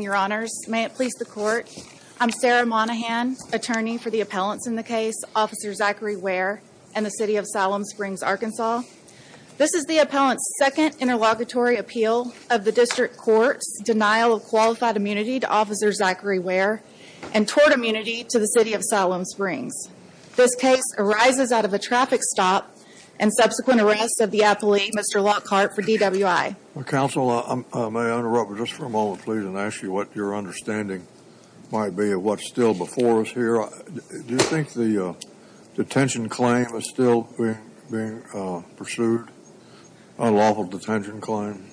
Your honors, may it please the court. I'm Sarah Monahan, attorney for the appellants in the case, Officer Zachary Ware and the city of Siloam Springs, Arkansas. This is the appellant's second interlocutory appeal of the district court's denial of qualified immunity to Officer Zachary Ware and tort immunity to the city of Siloam Springs. This case arises out of a traffic stop and subsequent arrest of the appellee, Mr. Lockhart, for DWI. Counsel, I may interrupt just for a moment, please, and ask you what your understanding might be of what's still before us here. Do you think the detention claim is still being pursued, unlawful detention claim?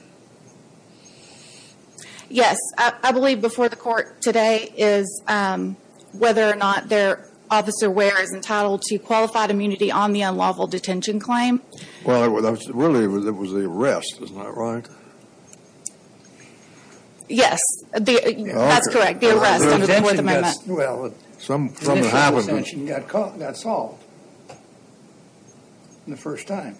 Yes, I believe before the court today is whether or not their officer, Ware, is entitled to qualified immunity on the unlawful detention claim. Well, really, it was the arrest, isn't that right? Yes, that's correct, the arrest. Well, some detention got solved the first time.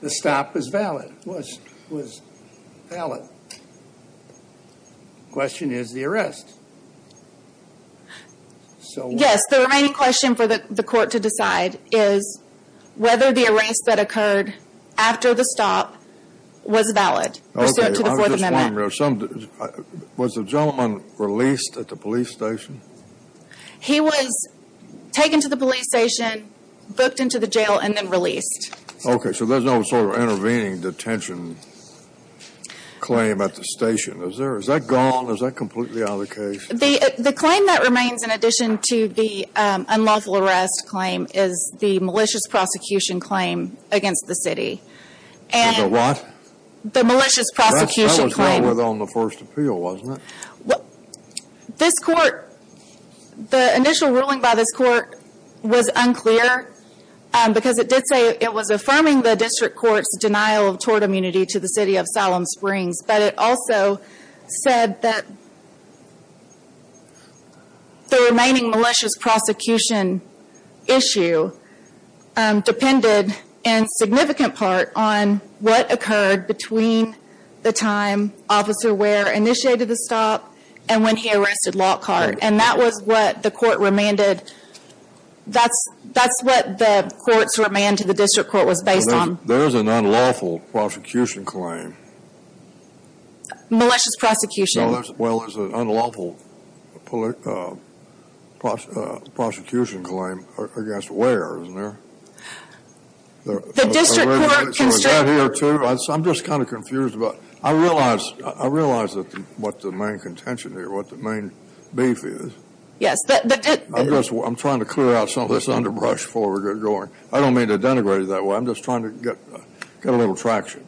The stop was valid, was valid. The question is the arrest. Yes, the remaining question for the court to decide is whether the arrest that occurred after the stop was valid. Was the gentleman released at the police station? He was taken to the police station, booked into the jail, and then released. Okay, so there's no sort of intervening detention claim at the station. Is that gone? Is that completely out of the case? The claim that remains, in addition to the unlawful arrest claim, is the malicious prosecution claim against the city. The what? The malicious prosecution claim. That was what was on the first appeal, wasn't it? This court, the initial ruling by this court was unclear because it did say it was affirming the district court's denial of tort immunity to the city of Salem Springs, but it also said that the remaining malicious prosecution issue depended in significant part on what occurred between the time Officer Ware initiated the stop and when he arrested Lockhart. And that was what the court remanded. That's what the court's remand to the district court was based on. There's an unlawful prosecution claim. Malicious prosecution. Well, there's an unlawful prosecution claim against Ware, isn't there? The district court constricted... I'm just kind of confused about... I realize what the main contention here, what the main beef is. Yes. I'm trying to clear out some of this underbrush before we get going. I don't mean to denigrate it that way. I'm just trying to get a little traction.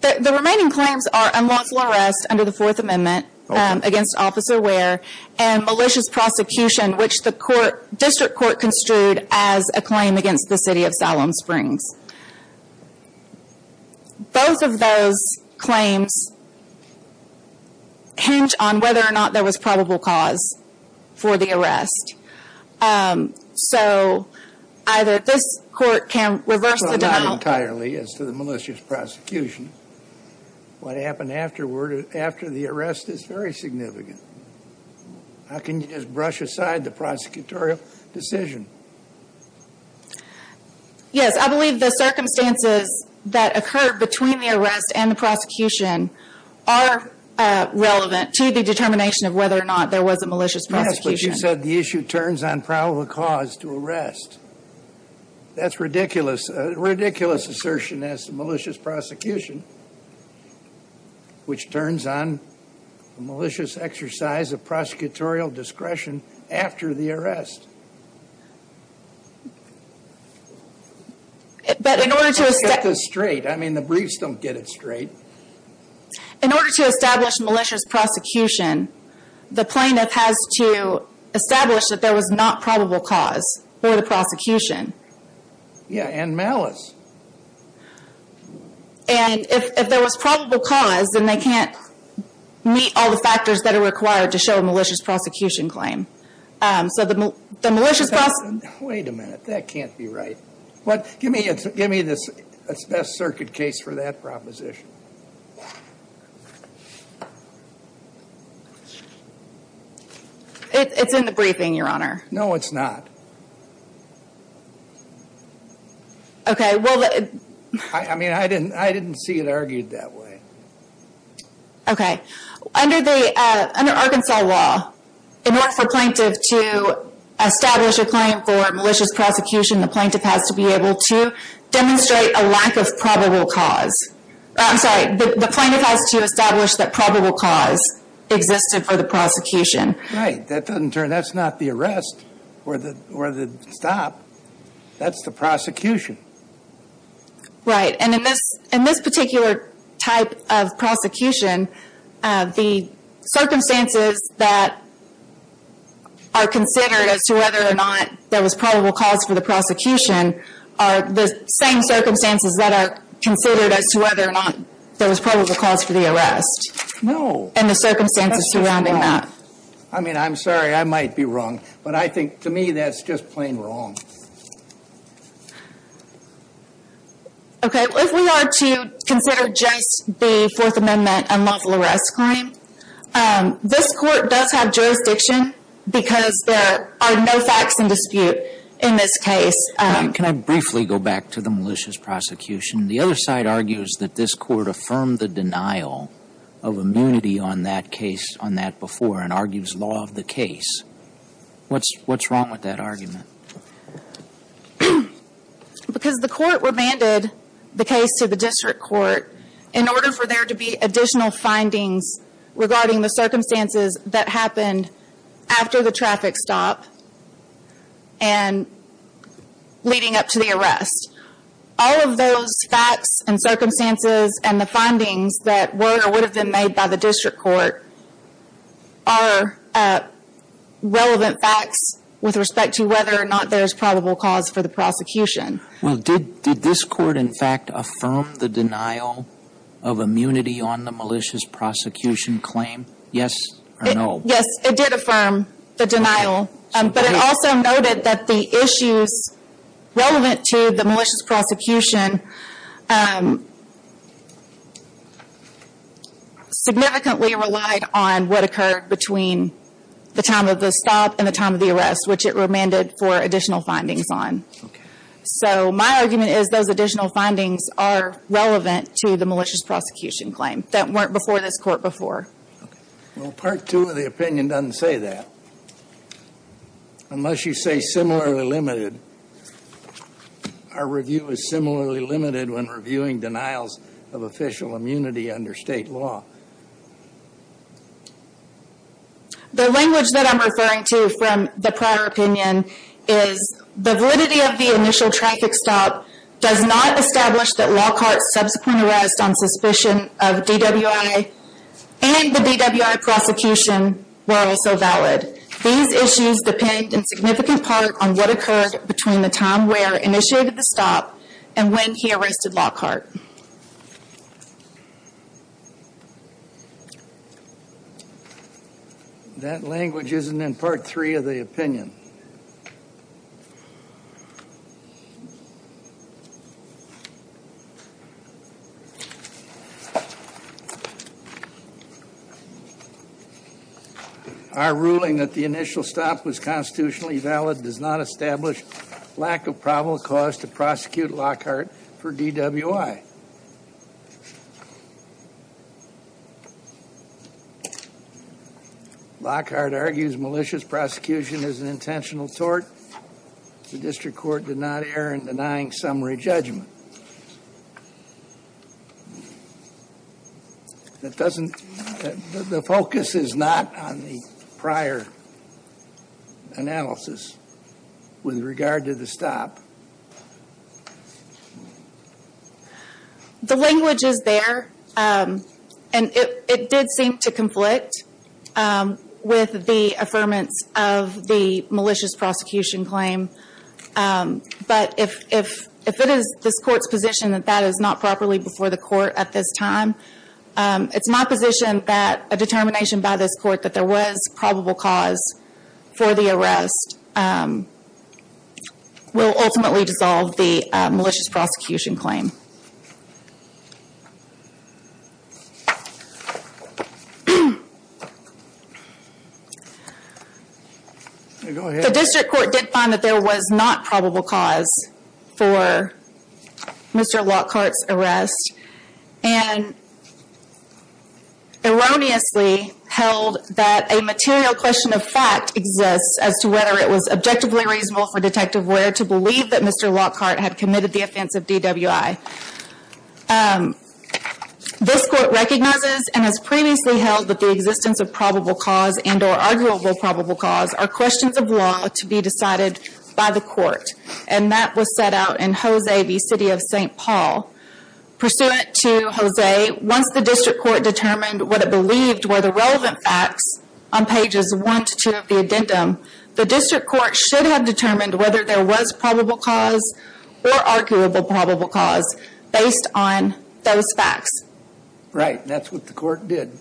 The remaining claims are unlawful arrest under the Fourth Amendment against Officer Ware and malicious prosecution, which the district court construed as a claim against the city of Salem whether or not there was probable cause for the arrest. So either this court can reverse the... Well, not entirely as to the malicious prosecution. What happened afterward, after the arrest is very significant. How can you just brush aside the prosecutorial decision? Yes, I believe the circumstances that occurred between the arrest and the prosecution are relevant to the determination of whether or not there was a malicious prosecution. Yes, but you said the issue turns on probable cause to arrest. That's ridiculous. A ridiculous assertion as to malicious prosecution, which turns on a malicious exercise of prosecutorial discretion after the arrest. But in order to... I mean, the briefs don't get it straight. In order to establish malicious prosecution, the plaintiff has to establish that there was not probable cause for the prosecution. Yes, and malice. And if there was probable cause, then they can't meet all the factors that are required to show a malicious prosecution claim. So the malicious prosecution... Wait a minute. That can't be right. But give me the best circuit case for that proposition. It's in the briefing, Your Honor. No, it's not. Okay, well... I mean, I didn't see it argued that way. Okay, under Arkansas law, in order for plaintiff to establish a claim for malicious prosecution, the plaintiff has to be able to demonstrate a lack of probable cause. I'm sorry, the plaintiff has to establish that probable cause existed for the prosecution. Right, that doesn't turn... That's not the arrest or the stop. That's the prosecution. Right, and in this particular type of prosecution, the circumstances that are considered as to whether or not there was probable cause for the prosecution are the same circumstances that are considered as to whether or not there was probable cause for the arrest. No. And the circumstances surrounding that. I mean, I'm sorry, I might be wrong, but I think, to me, that's just plain wrong. Okay, well, if we are to consider just the Fourth Amendment unlawful arrest claim, this Court does have jurisdiction because there are no facts in dispute in this case. Can I briefly go back to the malicious prosecution? The other side argues that this Court affirmed the denial of immunity on that case, on that before, and argues law of the case. What's wrong with that argument? Because the Court remanded the case to the District Court in order for there to be additional findings regarding the circumstances that happened after the traffic stop and leading up to the arrest. All of those facts and circumstances and the findings that were or would have been made by the District Court are relevant facts with respect to whether or not there's probable cause for the prosecution. Well, did this Court, in fact, affirm the denial of immunity on the malicious prosecution claim? Yes or no? Yes, it did affirm the denial, but it also noted that the issues relevant to the malicious prosecution significantly relied on what occurred between the time of the stop and the time of the arrest, which it remanded for additional findings on. So my argument is those additional findings are relevant to the malicious prosecution claim that weren't before this Court before. Okay. Well, Part 2 of the opinion doesn't say that. Unless you say similarly limited. Our review is similarly limited when reviewing denials of official immunity under state law. The language that I'm referring to from the prior opinion is the validity of the initial traffic stop does not establish that Lockhart's subsequent arrest on suspicion of DWI and the DWI prosecution were also valid. These issues depend in significant part on what occurred between the time where initiated the stop and when he arrested Lockhart. That language isn't in Part 3 of the opinion. Our ruling that the initial stop was constitutionally valid does not establish lack of probable cause to prosecute Lockhart for DWI. Lockhart argues malicious prosecution is an intentional tort. The district court did not err in denying summary judgment. That doesn't, the focus is not on the prior analysis with regard to the stop. The language is there and it did seem to conflict with the affirmance of the malicious prosecution claim, but if it is this court's position that that is not properly before the court at this time, it's my position that a determination by this court that there was probable cause for the arrest will ultimately dissolve the malicious prosecution claim. The district court did find that there was not probable cause for Mr. Lockhart's arrest and erroneously held that a material question of fact exists as to whether it was objectively reasonable for Detective Ware to believe that Mr. Lockhart had committed the offense of DWI. This court recognizes and has previously held that the existence of probable cause and or arguable probable cause are questions of law to be decided by the court and that was set out in Jose v. City of St. Paul. Pursuant to Jose, once the district court determined what it believed were the relevant facts on pages 1 to 2 of the addendum, the district court should have determined whether there was probable cause or arguable probable cause based on those facts. Right, that's what the court did.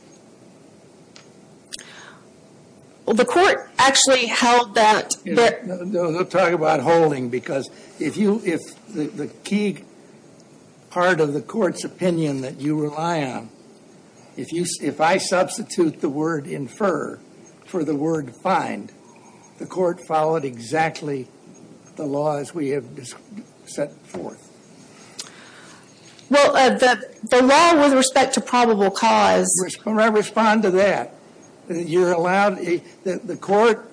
The court actually held that... We'll talk about holding because if the key part of the court's opinion that you rely on, if I substitute the word infer for the word find, the court followed exactly the law as we have set forth. Well, the law with respect to probable cause... I respond to that. You're allowed... The court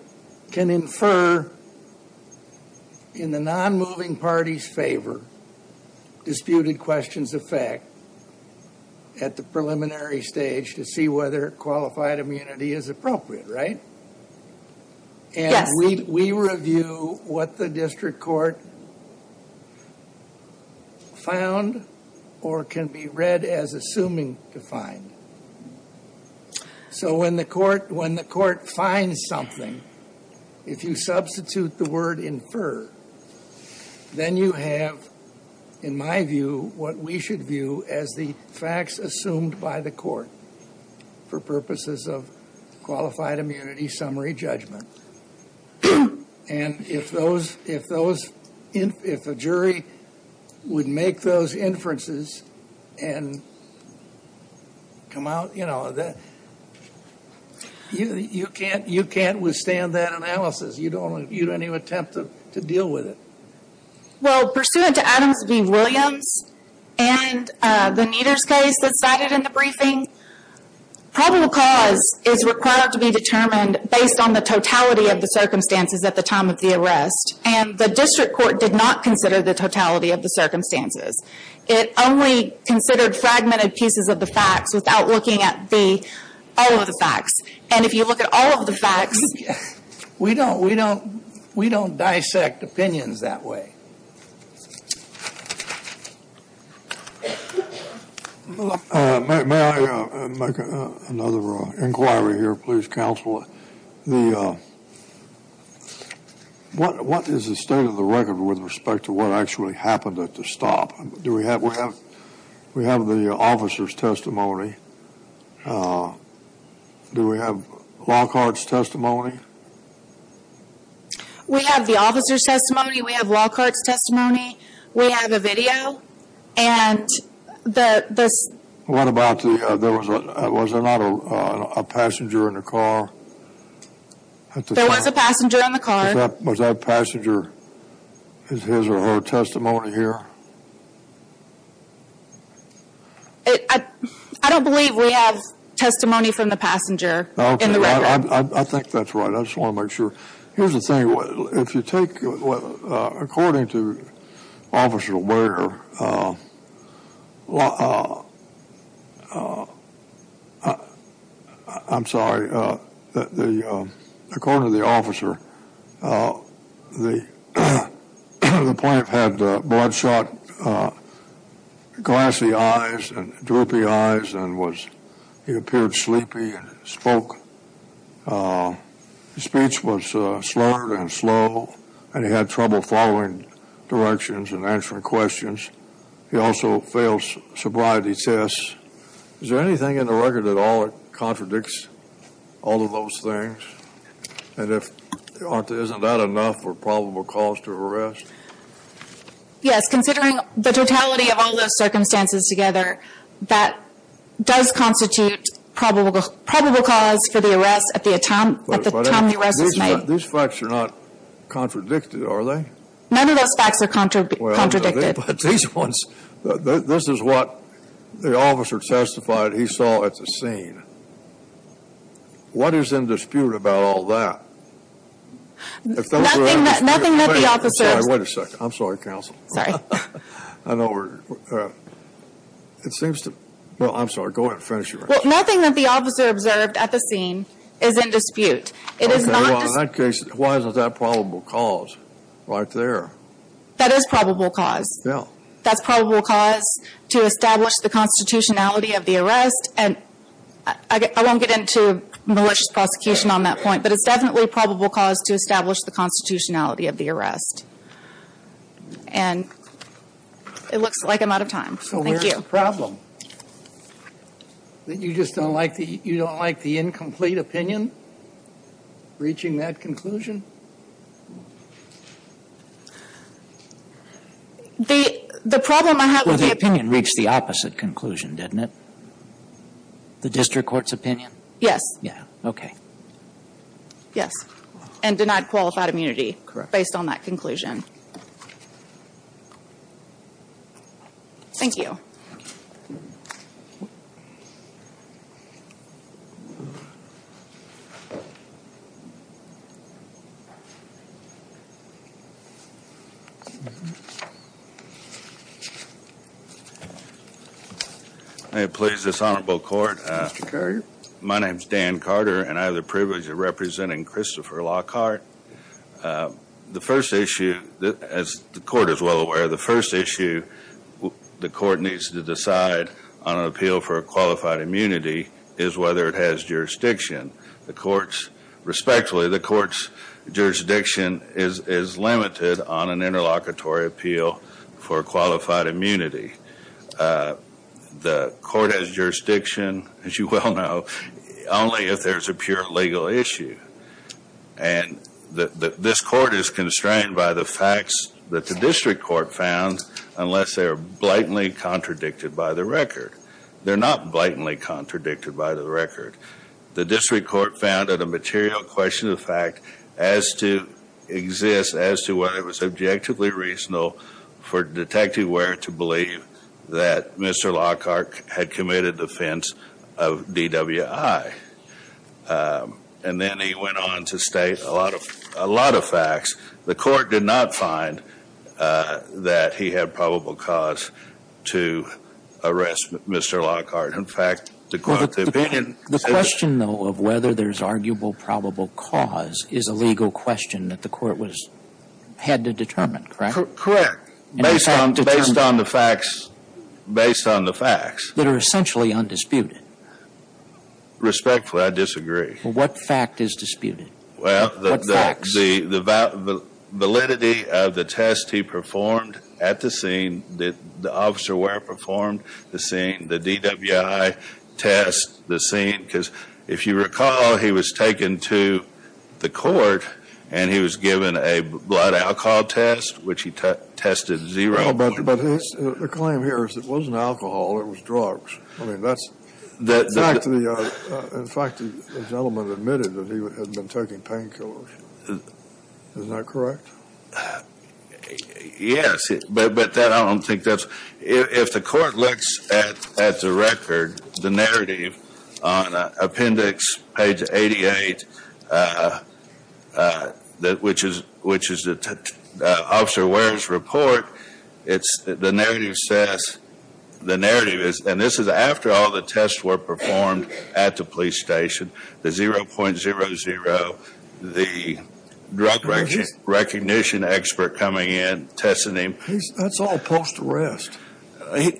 can infer in the non-moving party's favor disputed questions of fact at the preliminary stage to see whether qualified immunity is appropriate, right? And we review what the district court found or can be read as assuming to find. So when the court finds something, if you substitute the word infer, then you have, in my view, what we should view as the facts assumed by the court for purposes of qualified immunity summary judgment. And if those... If a jury would make those inferences and come out, you know, that... You can't withstand that analysis. You don't even attempt to deal with it. Well, pursuant to Adams v. Williams and the Nieder's case that's cited in the briefing, probable cause is required to be determined based on the totality of the circumstances at the time of the arrest. And the district court did not consider the totality of the circumstances. It only considered fragmented pieces of the facts without looking at all the facts. And if you look at all of the facts... We don't... We don't... We don't dissect opinions that way. May I make another inquiry here, please, counsel? What is the state of the record with respect to what actually happened at the stop? Do we have... We have the officer's testimony. Do we have Lockhart's testimony? We have the officer's testimony. We have Lockhart's testimony. We have a video. And the... What about the... There was... Was there not a passenger in the car? There was a passenger in the car. Was that passenger... His or her testimony here? I don't believe we have testimony from the passenger in the record. I think that's right. I just want to make sure. Here's the thing. If you take what... According to Officer Ware... I'm sorry. According to the officer, the plaintiff had bloodshot, glassy eyes and droopy eyes and was... He appeared sleepy and spoke. His speech was slurred and slow and he had trouble following directions and answering questions. He also failed sobriety tests. Is there anything in the record at all that contradicts all of those things? And if... Isn't that enough for probable cause to arrest? Yes. Considering the totality of all those circumstances together, that does constitute probable cause for the arrest at the time the arrest was made. These facts are not contradicted, are they? None of those facts are contradicted. But these ones... This is what the officer testified he saw at the scene. What is in dispute about all that? Nothing that the officer... Wait a second. I'm sorry, counsel. It seems to... Well, I'm sorry. Go ahead and finish your answer. Nothing that the officer observed at the scene is in dispute. It is not... In that case, why is that probable cause right there? That is probable cause. That's probable cause to establish the constitutionality of the arrest. And I won't get into malicious prosecution on that point, but it's definitely probable cause to establish the constitutionality of the arrest. And it looks like I'm out of time. So where's the problem? That you just don't like the... You don't like the incomplete opinion reaching that conclusion? The problem I have with the... Well, the opinion reached the opposite conclusion, didn't it? The district court's opinion? Yeah. Okay. Yes. And denied qualified immunity based on that conclusion. Thank you. Thank you. May it please this honorable court... My name's Dan Carter, and I have the privilege of representing Christopher Lockhart. The first issue, as the court is well aware, the first issue the court needs to decide on an appeal for a qualified immunity is whether it has jurisdiction. The court's... Respectfully, the court's jurisdiction is limited on an interlocutory appeal for qualified immunity. The court has jurisdiction, as you well know, only if there's a pure legal issue. And this court is constrained by the facts that the district court found unless they are blatantly contradicted by the record. They're not blatantly contradicted by the record. The district court found that a material question of fact as to... Exists as to whether it was objectively reasonable for Detective Ware to believe that Mr. Lockhart had committed offense of DWI. And then he went on to state a lot of facts. The court did not find that he had probable cause to arrest Mr. Lockhart. In fact, the court's opinion... The question, though, of whether there's arguable probable cause is a legal question that the court had to determine, correct? Correct, based on the facts. Based on the facts. That are essentially undisputed. Respectfully, I disagree. What fact is disputed? Well, the validity of the test he performed at the scene, that the officer Ware performed the scene, the DWI test, the scene, because if you recall, he was taken to the court and he was given a blood alcohol test, which he tested zero for. But the claim here is it wasn't alcohol, it was drugs. I mean, that's... In fact, the gentleman admitted that he had been taking painkillers. Is that correct? Yes, but I don't think that's... If the court looks at the record, the narrative on appendix page 88, which is the Officer Ware's report, it's the narrative says... The narrative is... And this is after all the tests were performed at the police station, the 0.00, the drug recognition expert coming in, testing him. That's all post-arrest.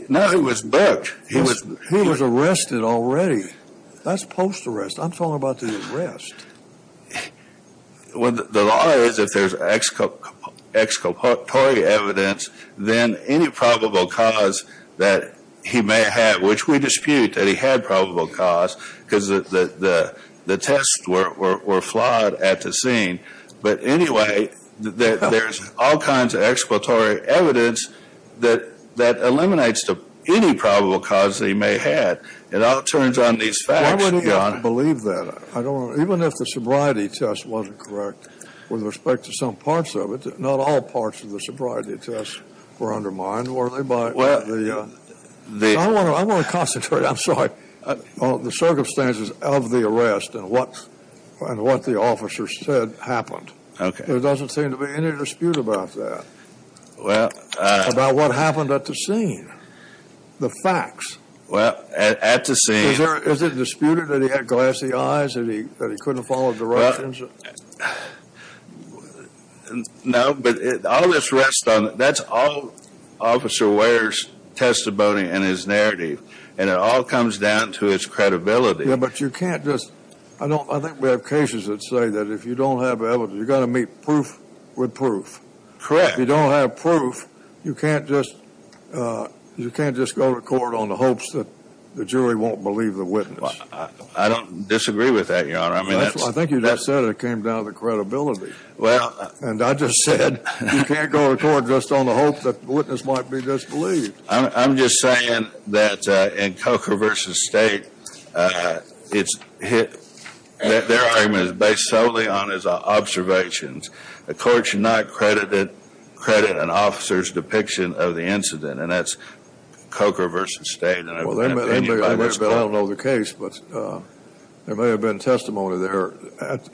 No, he was booked. He was arrested already. That's post-arrest. I'm talking about the arrest. The law is if there's exculpatory evidence, then any probable cause that he may have, which we dispute that he had probable cause, because the tests were flawed at the scene. But anyway, there's all kinds of exculpatory evidence that eliminates any probable cause that he may have. It all turns on these facts, Your Honor. Why would he believe that? I don't know. Even if the sobriety test wasn't correct, with respect to some parts of it, not all parts of the sobriety test were undermined, were they by the... I want to concentrate, I'm sorry, on the circumstances of the arrest and what the officer said happened. Okay. There doesn't seem to be any dispute about that, about what happened at the scene, the facts. Well, at the scene... Is it disputed that he had glassy eyes, that he couldn't follow directions? No, but all this rests on... That's all Officer Ware's testimony and his narrative, and it all comes down to his credibility. Yeah, but you can't just... I think we have cases that say that if you don't have evidence, you've got to meet proof with proof. Correct. If you don't have proof, you can't just go to court on the hopes that the jury won't believe the witness. I don't disagree with that, Your Honor. I think you just said it came down to credibility. Well... And I just said you can't go to court just on the hope that the witness might be disbelieved. I'm just saying that in Coker v. State, their argument is based solely on his observations. The court should not credit an officer's depiction of the incident, and that's Coker v. State. Well, I don't know the case, but there may have been testimony there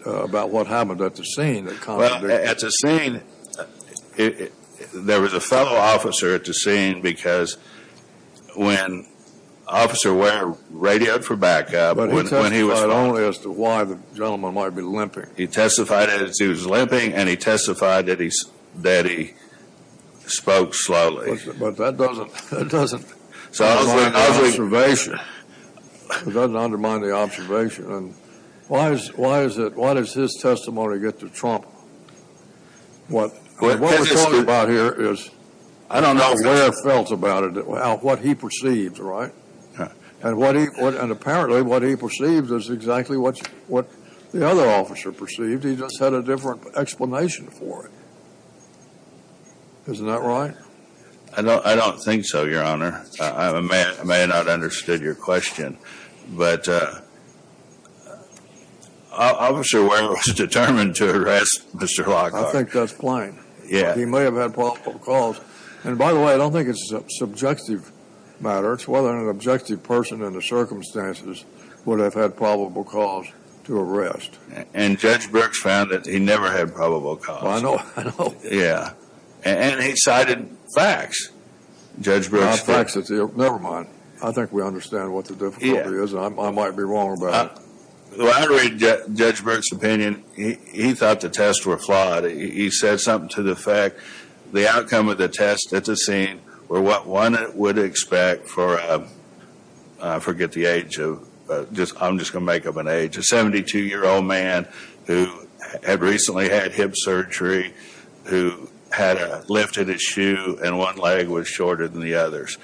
about what happened at the scene. Well, at the scene, there was a fellow officer at the scene because when Officer Ware radioed for backup... But he testified only as to why the gentleman might be limping. He testified that he was limping, and he testified that he spoke slowly. But that doesn't... That doesn't... It doesn't undermine the observation. And why does his testimony get to trump what... What we're talking about here is... I don't know. ...Ware felt about it, about what he perceives, right? Yeah. And apparently, what he perceives is exactly what the other officer perceived. He just had a different explanation for it. Isn't that right? I don't think so, Your Honor. I may have not understood your question, but Officer Ware was determined to arrest Mr. Lockhart. I think that's plain. Yeah. He may have had probable cause. And by the way, I don't think it's a subjective matter. It's whether an objective person in the circumstances would have had probable cause to arrest. And Judge Brooks found that he never had probable cause. I know. Yeah. And he cited facts. Judge Brooks... Well, facts... Never mind. I think we understand what the difficulty is. I might be wrong about it. Well, I read Judge Brooks' opinion. He thought the tests were flawed. He said something to the effect, the outcome of the test at the scene were what one would expect for a... I forget the age of... I'm just going to make up an age. A 72-year-old man who had recently had hip surgery, who had lifted his shoe, and one leg was shorter than the others.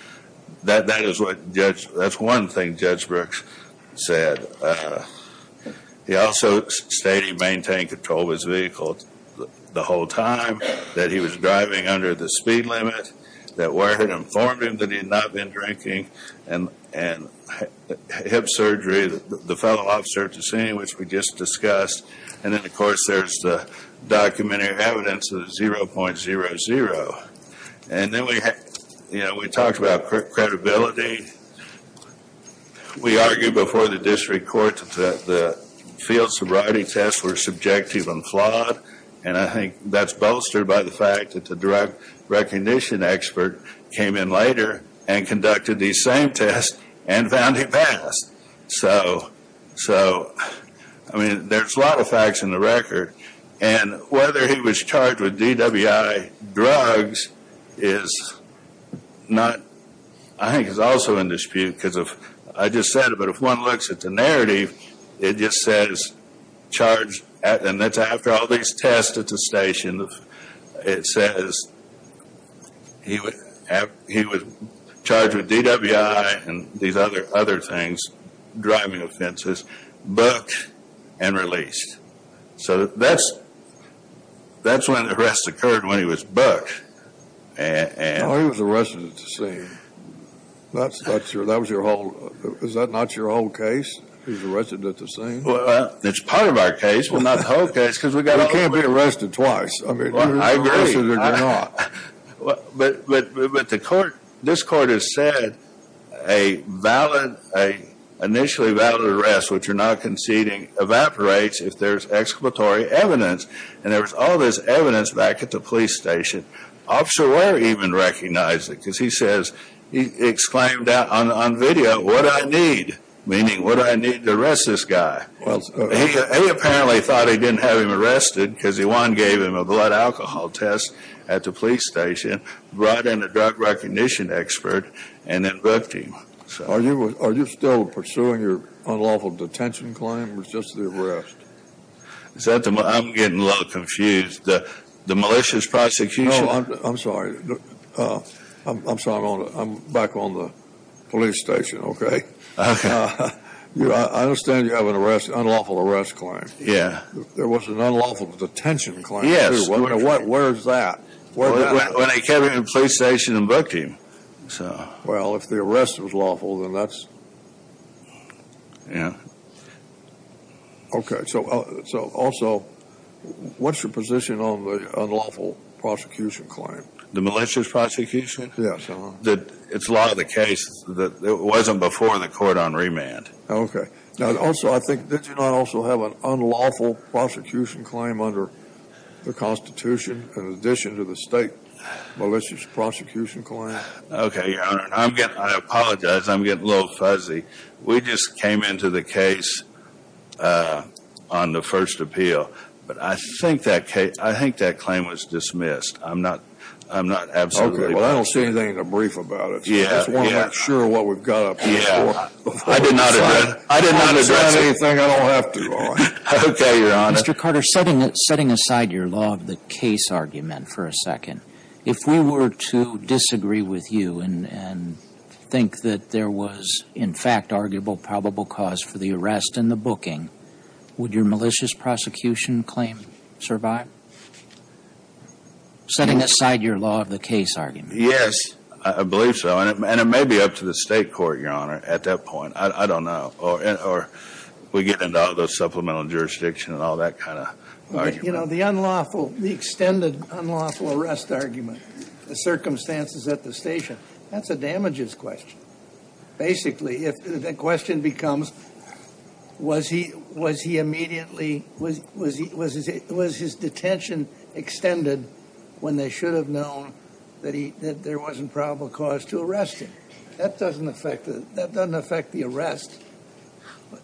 That is what Judge... That's one thing Judge Brooks said. He also stated he maintained control of his vehicle the whole time, that he was driving under the speed limit, that Ware had informed him that he had not been drinking, and hip surgery, the fellow officer at the scene, which we just discussed. And then, of course, there's the documentary evidence of 0.00. And then we talked about credibility. We argued before the district court that the field sobriety tests were subjective and flawed. And I think that's bolstered by the fact that the drug recognition expert came in later and conducted these same tests and found he passed. So, I mean, there's a lot of facts in the record. And whether he was charged with DWI drugs is not... I think it's also in dispute because of... I just said it, but if one looks at the narrative, it just says charged... And that's after all these tests at the station. It says he was charged with DWI and these other things. Driving offenses, booked and released. So, that's when the arrest occurred, when he was booked. No, he was arrested at the scene. Is that not your whole case? He's arrested at the scene? Well, that's part of our case. Well, not the whole case, because we got... He can't be arrested twice. I agree. But the court... This court has said a valid... An initially valid arrest, which you're not conceding, evaporates if there's explanatory evidence. And there was all this evidence back at the police station. Officer Ware even recognized it, because he says... He exclaimed on video, what do I need? Meaning, what do I need to arrest this guy? Well, he apparently thought he didn't have him arrested, because one gave him a blood alcohol test at the police station, brought in a drug recognition expert, and then booked him. Are you still pursuing your unlawful detention claim, or is it just the arrest? Is that the... I'm getting a little confused. The malicious prosecution... No, I'm sorry. I'm sorry. I'm back on the police station, okay? Okay. I understand you have an arrest... Unlawful arrest claim. Yeah. There was an unlawful detention claim, too. Yes. Where is that? When they kept him in the police station and booked him, so... Well, if the arrest was lawful, then that's... Yeah. Okay, so also, what's your position on the unlawful prosecution claim? The malicious prosecution? Yes. That it's a lot of the cases that it wasn't before in the court on remand. Okay. Now, also, I think, did you not also have an unlawful prosecution claim under the Constitution, in addition to the state malicious prosecution claim? Okay, Your Honor. I'm getting... I apologize. I'm getting a little fuzzy. We just came into the case on the first appeal, but I think that case... I think that claim was dismissed. I'm not... I'm not absolutely... Okay, well, I don't see anything in the brief about it. Yeah, yeah. I just want to make sure what we've got up to before... I did not address... I did not address anything. I don't have to, Your Honor. Okay, Your Honor. Mr. Carter, setting aside your law of the case argument for a second, if we were to disagree with you and think that there was, in fact, arguable probable cause for the arrest and the booking, would your malicious prosecution claim survive? Setting aside your law of the case argument. Yes, I believe so, and it may be up to the state court, Your Honor, at that point. I don't know, or we get into those supplemental jurisdiction and all that kind of argument. You know, the unlawful, the extended unlawful arrest argument, the circumstances at the station, that's a damages question. Basically, if the question becomes, was he immediately... Was his detention extended when they should have known that there wasn't probable cause to arrest him? That doesn't affect it. That doesn't affect the arrest.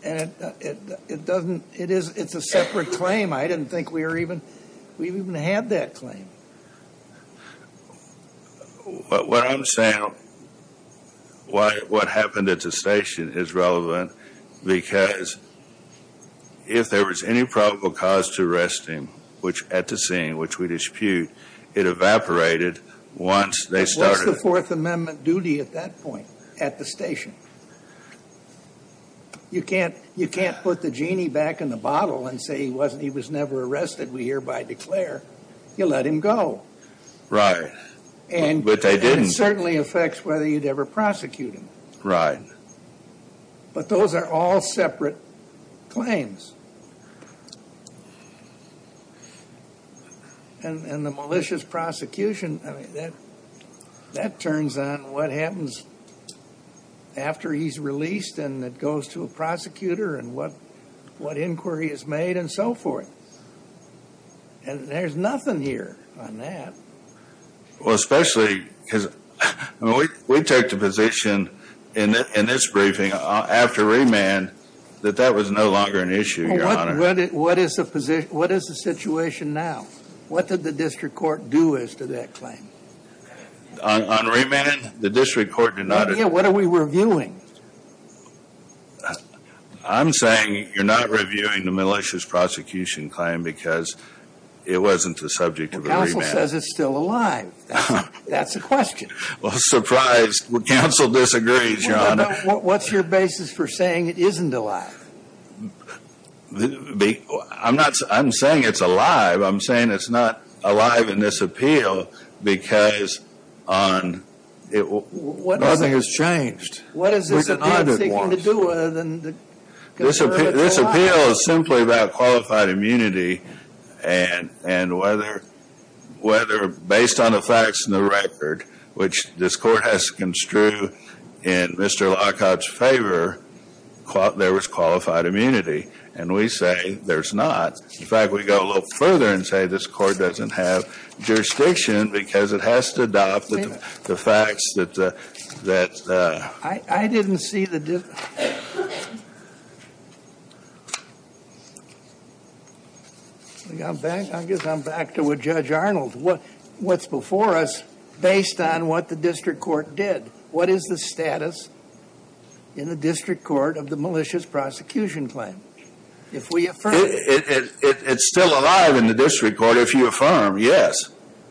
And it doesn't... It is... It's a separate claim. I didn't think we were even... We even had that claim. What I'm saying, what happened at the station is relevant because if there was any probable cause to arrest him, which at the scene, which we dispute, it evaporated once they started... At that point, at the station. You can't put the genie back in the bottle and say he wasn't... He was never arrested. We hereby declare, you let him go. And it certainly affects whether you'd ever prosecute him. Right. But those are all separate claims. And the malicious prosecution, I mean, that turns on what happens after he's released and it goes to a prosecutor and what inquiry is made and so forth. And there's nothing here on that. Well, especially because we take the position in this briefing after remand that that was no longer an issue. What is the position? What is the situation now? What did the district court do as to that claim? On remand, the district court did not... What are we reviewing? I'm saying you're not reviewing the malicious prosecution claim because it wasn't the subject of a remand. Well, counsel says it's still alive. That's the question. Well, surprise. Counsel disagrees, Your Honor. What's your basis for saying it isn't alive? I'm not... I'm saying it's alive. I'm saying it's not alive in this appeal because nothing has changed. What is this appeal seeking to do with? This appeal is simply about qualified immunity and whether, based on the facts and the record, which this court has construed in Mr. Lockhart's favor, there was qualified immunity. And we say there's not. In fact, we go a little further and say this court doesn't have jurisdiction because it has to adopt the facts that... I didn't see the... I guess I'm back to what Judge Arnold... What's before us based on what the district court did. What is the status in the district court of the malicious prosecution claim? If we affirm... It's still alive in the district court if you affirm, yes.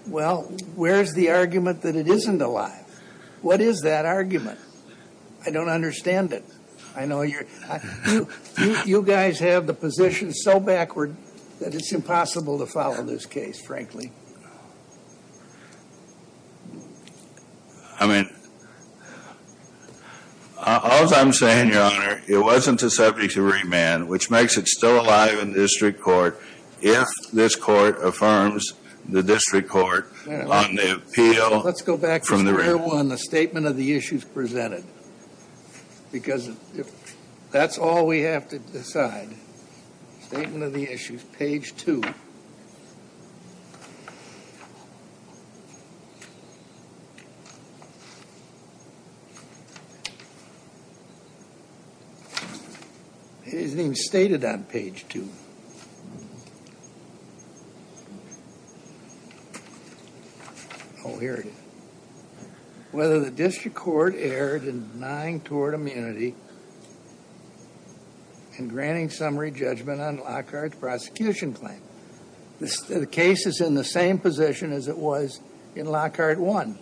Well, where's the argument that it isn't alive? What is that argument? I don't understand it. I know you're... You guys have the position so backward that it's impossible to follow this case, frankly. I mean, all I'm saying, Your Honor, it wasn't a subject of remand. Which makes it still alive in the district court if this court affirms the district court on the appeal from the remand. Well, let's go back to Chapter 1, the statement of the issues presented. Because that's all we have to decide. Statement of the issues, page 2. It isn't even stated on page 2. Oh, here it is. Whether the district court erred in denying tort immunity and granting summary judgment on Lockhart's prosecution claim. The case is in the same position as it was in Lockhart 1.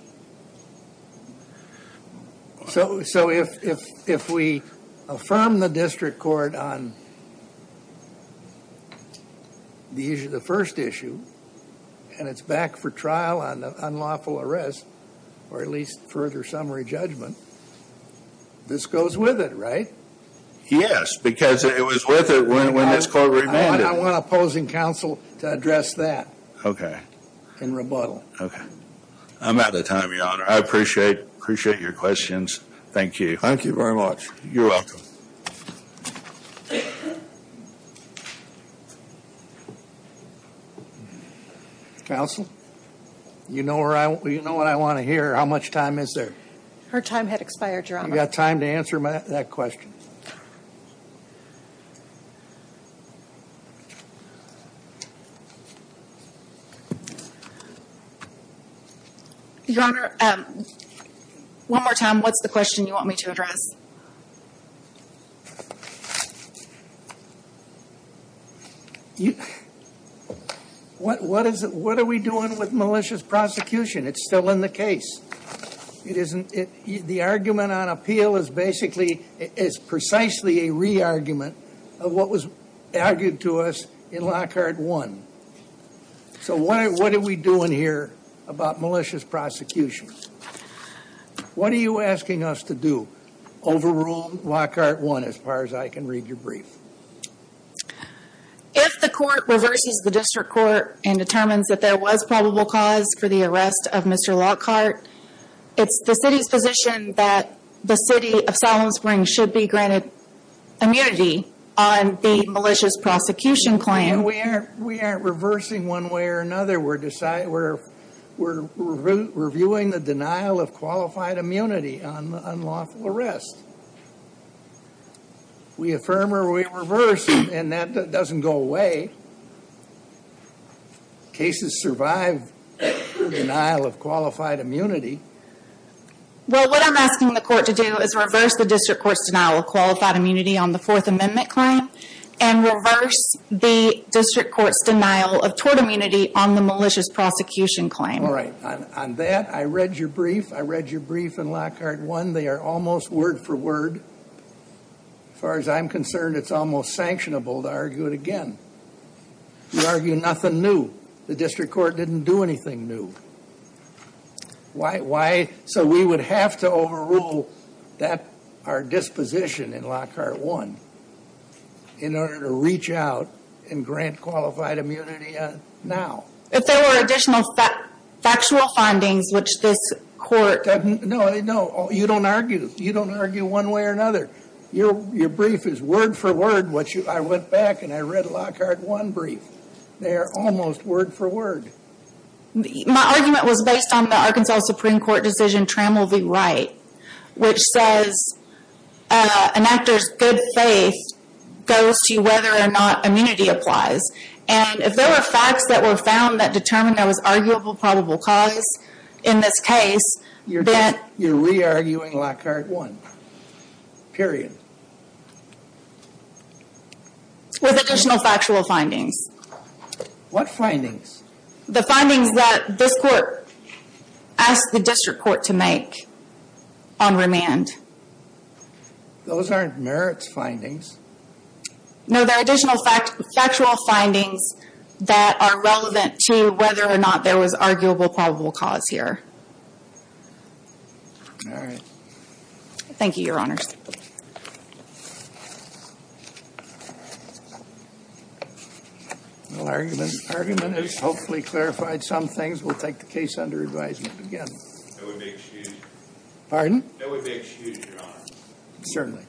So if we affirm the district court on the first issue and it's back for trial on unlawful arrest or at least further summary judgment, this goes with it, right? Yes, because it was with it when this court remanded. I want opposing counsel to address that. In rebuttal. Okay. I'm out of time, Your Honor. I appreciate your questions. Thank you. Thank you very much. You're welcome. Counsel, you know what I want to hear? How much time is there? Her time had expired, Your Honor. I've got time to answer that question. Your Honor, one more time, what's the question you want me to address? What are we doing with malicious prosecution? It's still in the case. The argument on appeal is basically, it's precisely a re-argument of what was argued to us in Lockhart 1. So what are we doing here about malicious prosecution? What are you asking us to do over on Lockhart 1 as far as I can read your brief? If the court reverses the district court and determines that there was probable cause for arrest of Mr. Lockhart, it's the city's position that the city of Salomon Springs should be granted immunity on the malicious prosecution claim. We aren't reversing one way or another. We're reviewing the denial of qualified immunity on unlawful arrest. We affirm or we reverse, and that doesn't go away. Cases survive the denial of qualified immunity. Well, what I'm asking the court to do is reverse the district court's denial of qualified immunity on the Fourth Amendment claim and reverse the district court's denial of tort immunity on the malicious prosecution claim. All right. On that, I read your brief. I read your brief in Lockhart 1. They are almost word for word. As far as I'm concerned, it's almost sanctionable to argue it again. You argue nothing new. The district court didn't do anything new. So we would have to overrule our disposition in Lockhart 1 in order to reach out and grant qualified immunity now. If there were additional factual findings, which this court doesn't... No, no. You don't argue. You don't argue one way or another. Your brief is word for word. I went back and I read Lockhart 1 brief. They are almost word for word. My argument was based on the Arkansas Supreme Court decision Trammell v. Wright, which says an actor's good faith goes to whether or not immunity applies. And if there were facts that were found that determined there was arguable probable cause in this case, then... You're re-arguing Lockhart 1. Period. With additional factual findings. What findings? The findings that this court asked the district court to make on remand. Those aren't merits findings. No, they're additional factual findings that are relevant to whether or not there was arguable probable cause here. All right. Thank you, your honors. No argument. Argument has hopefully clarified some things. We'll take the case under advisement again. That would be excused. Pardon? That would be excused, your honor. Certainly.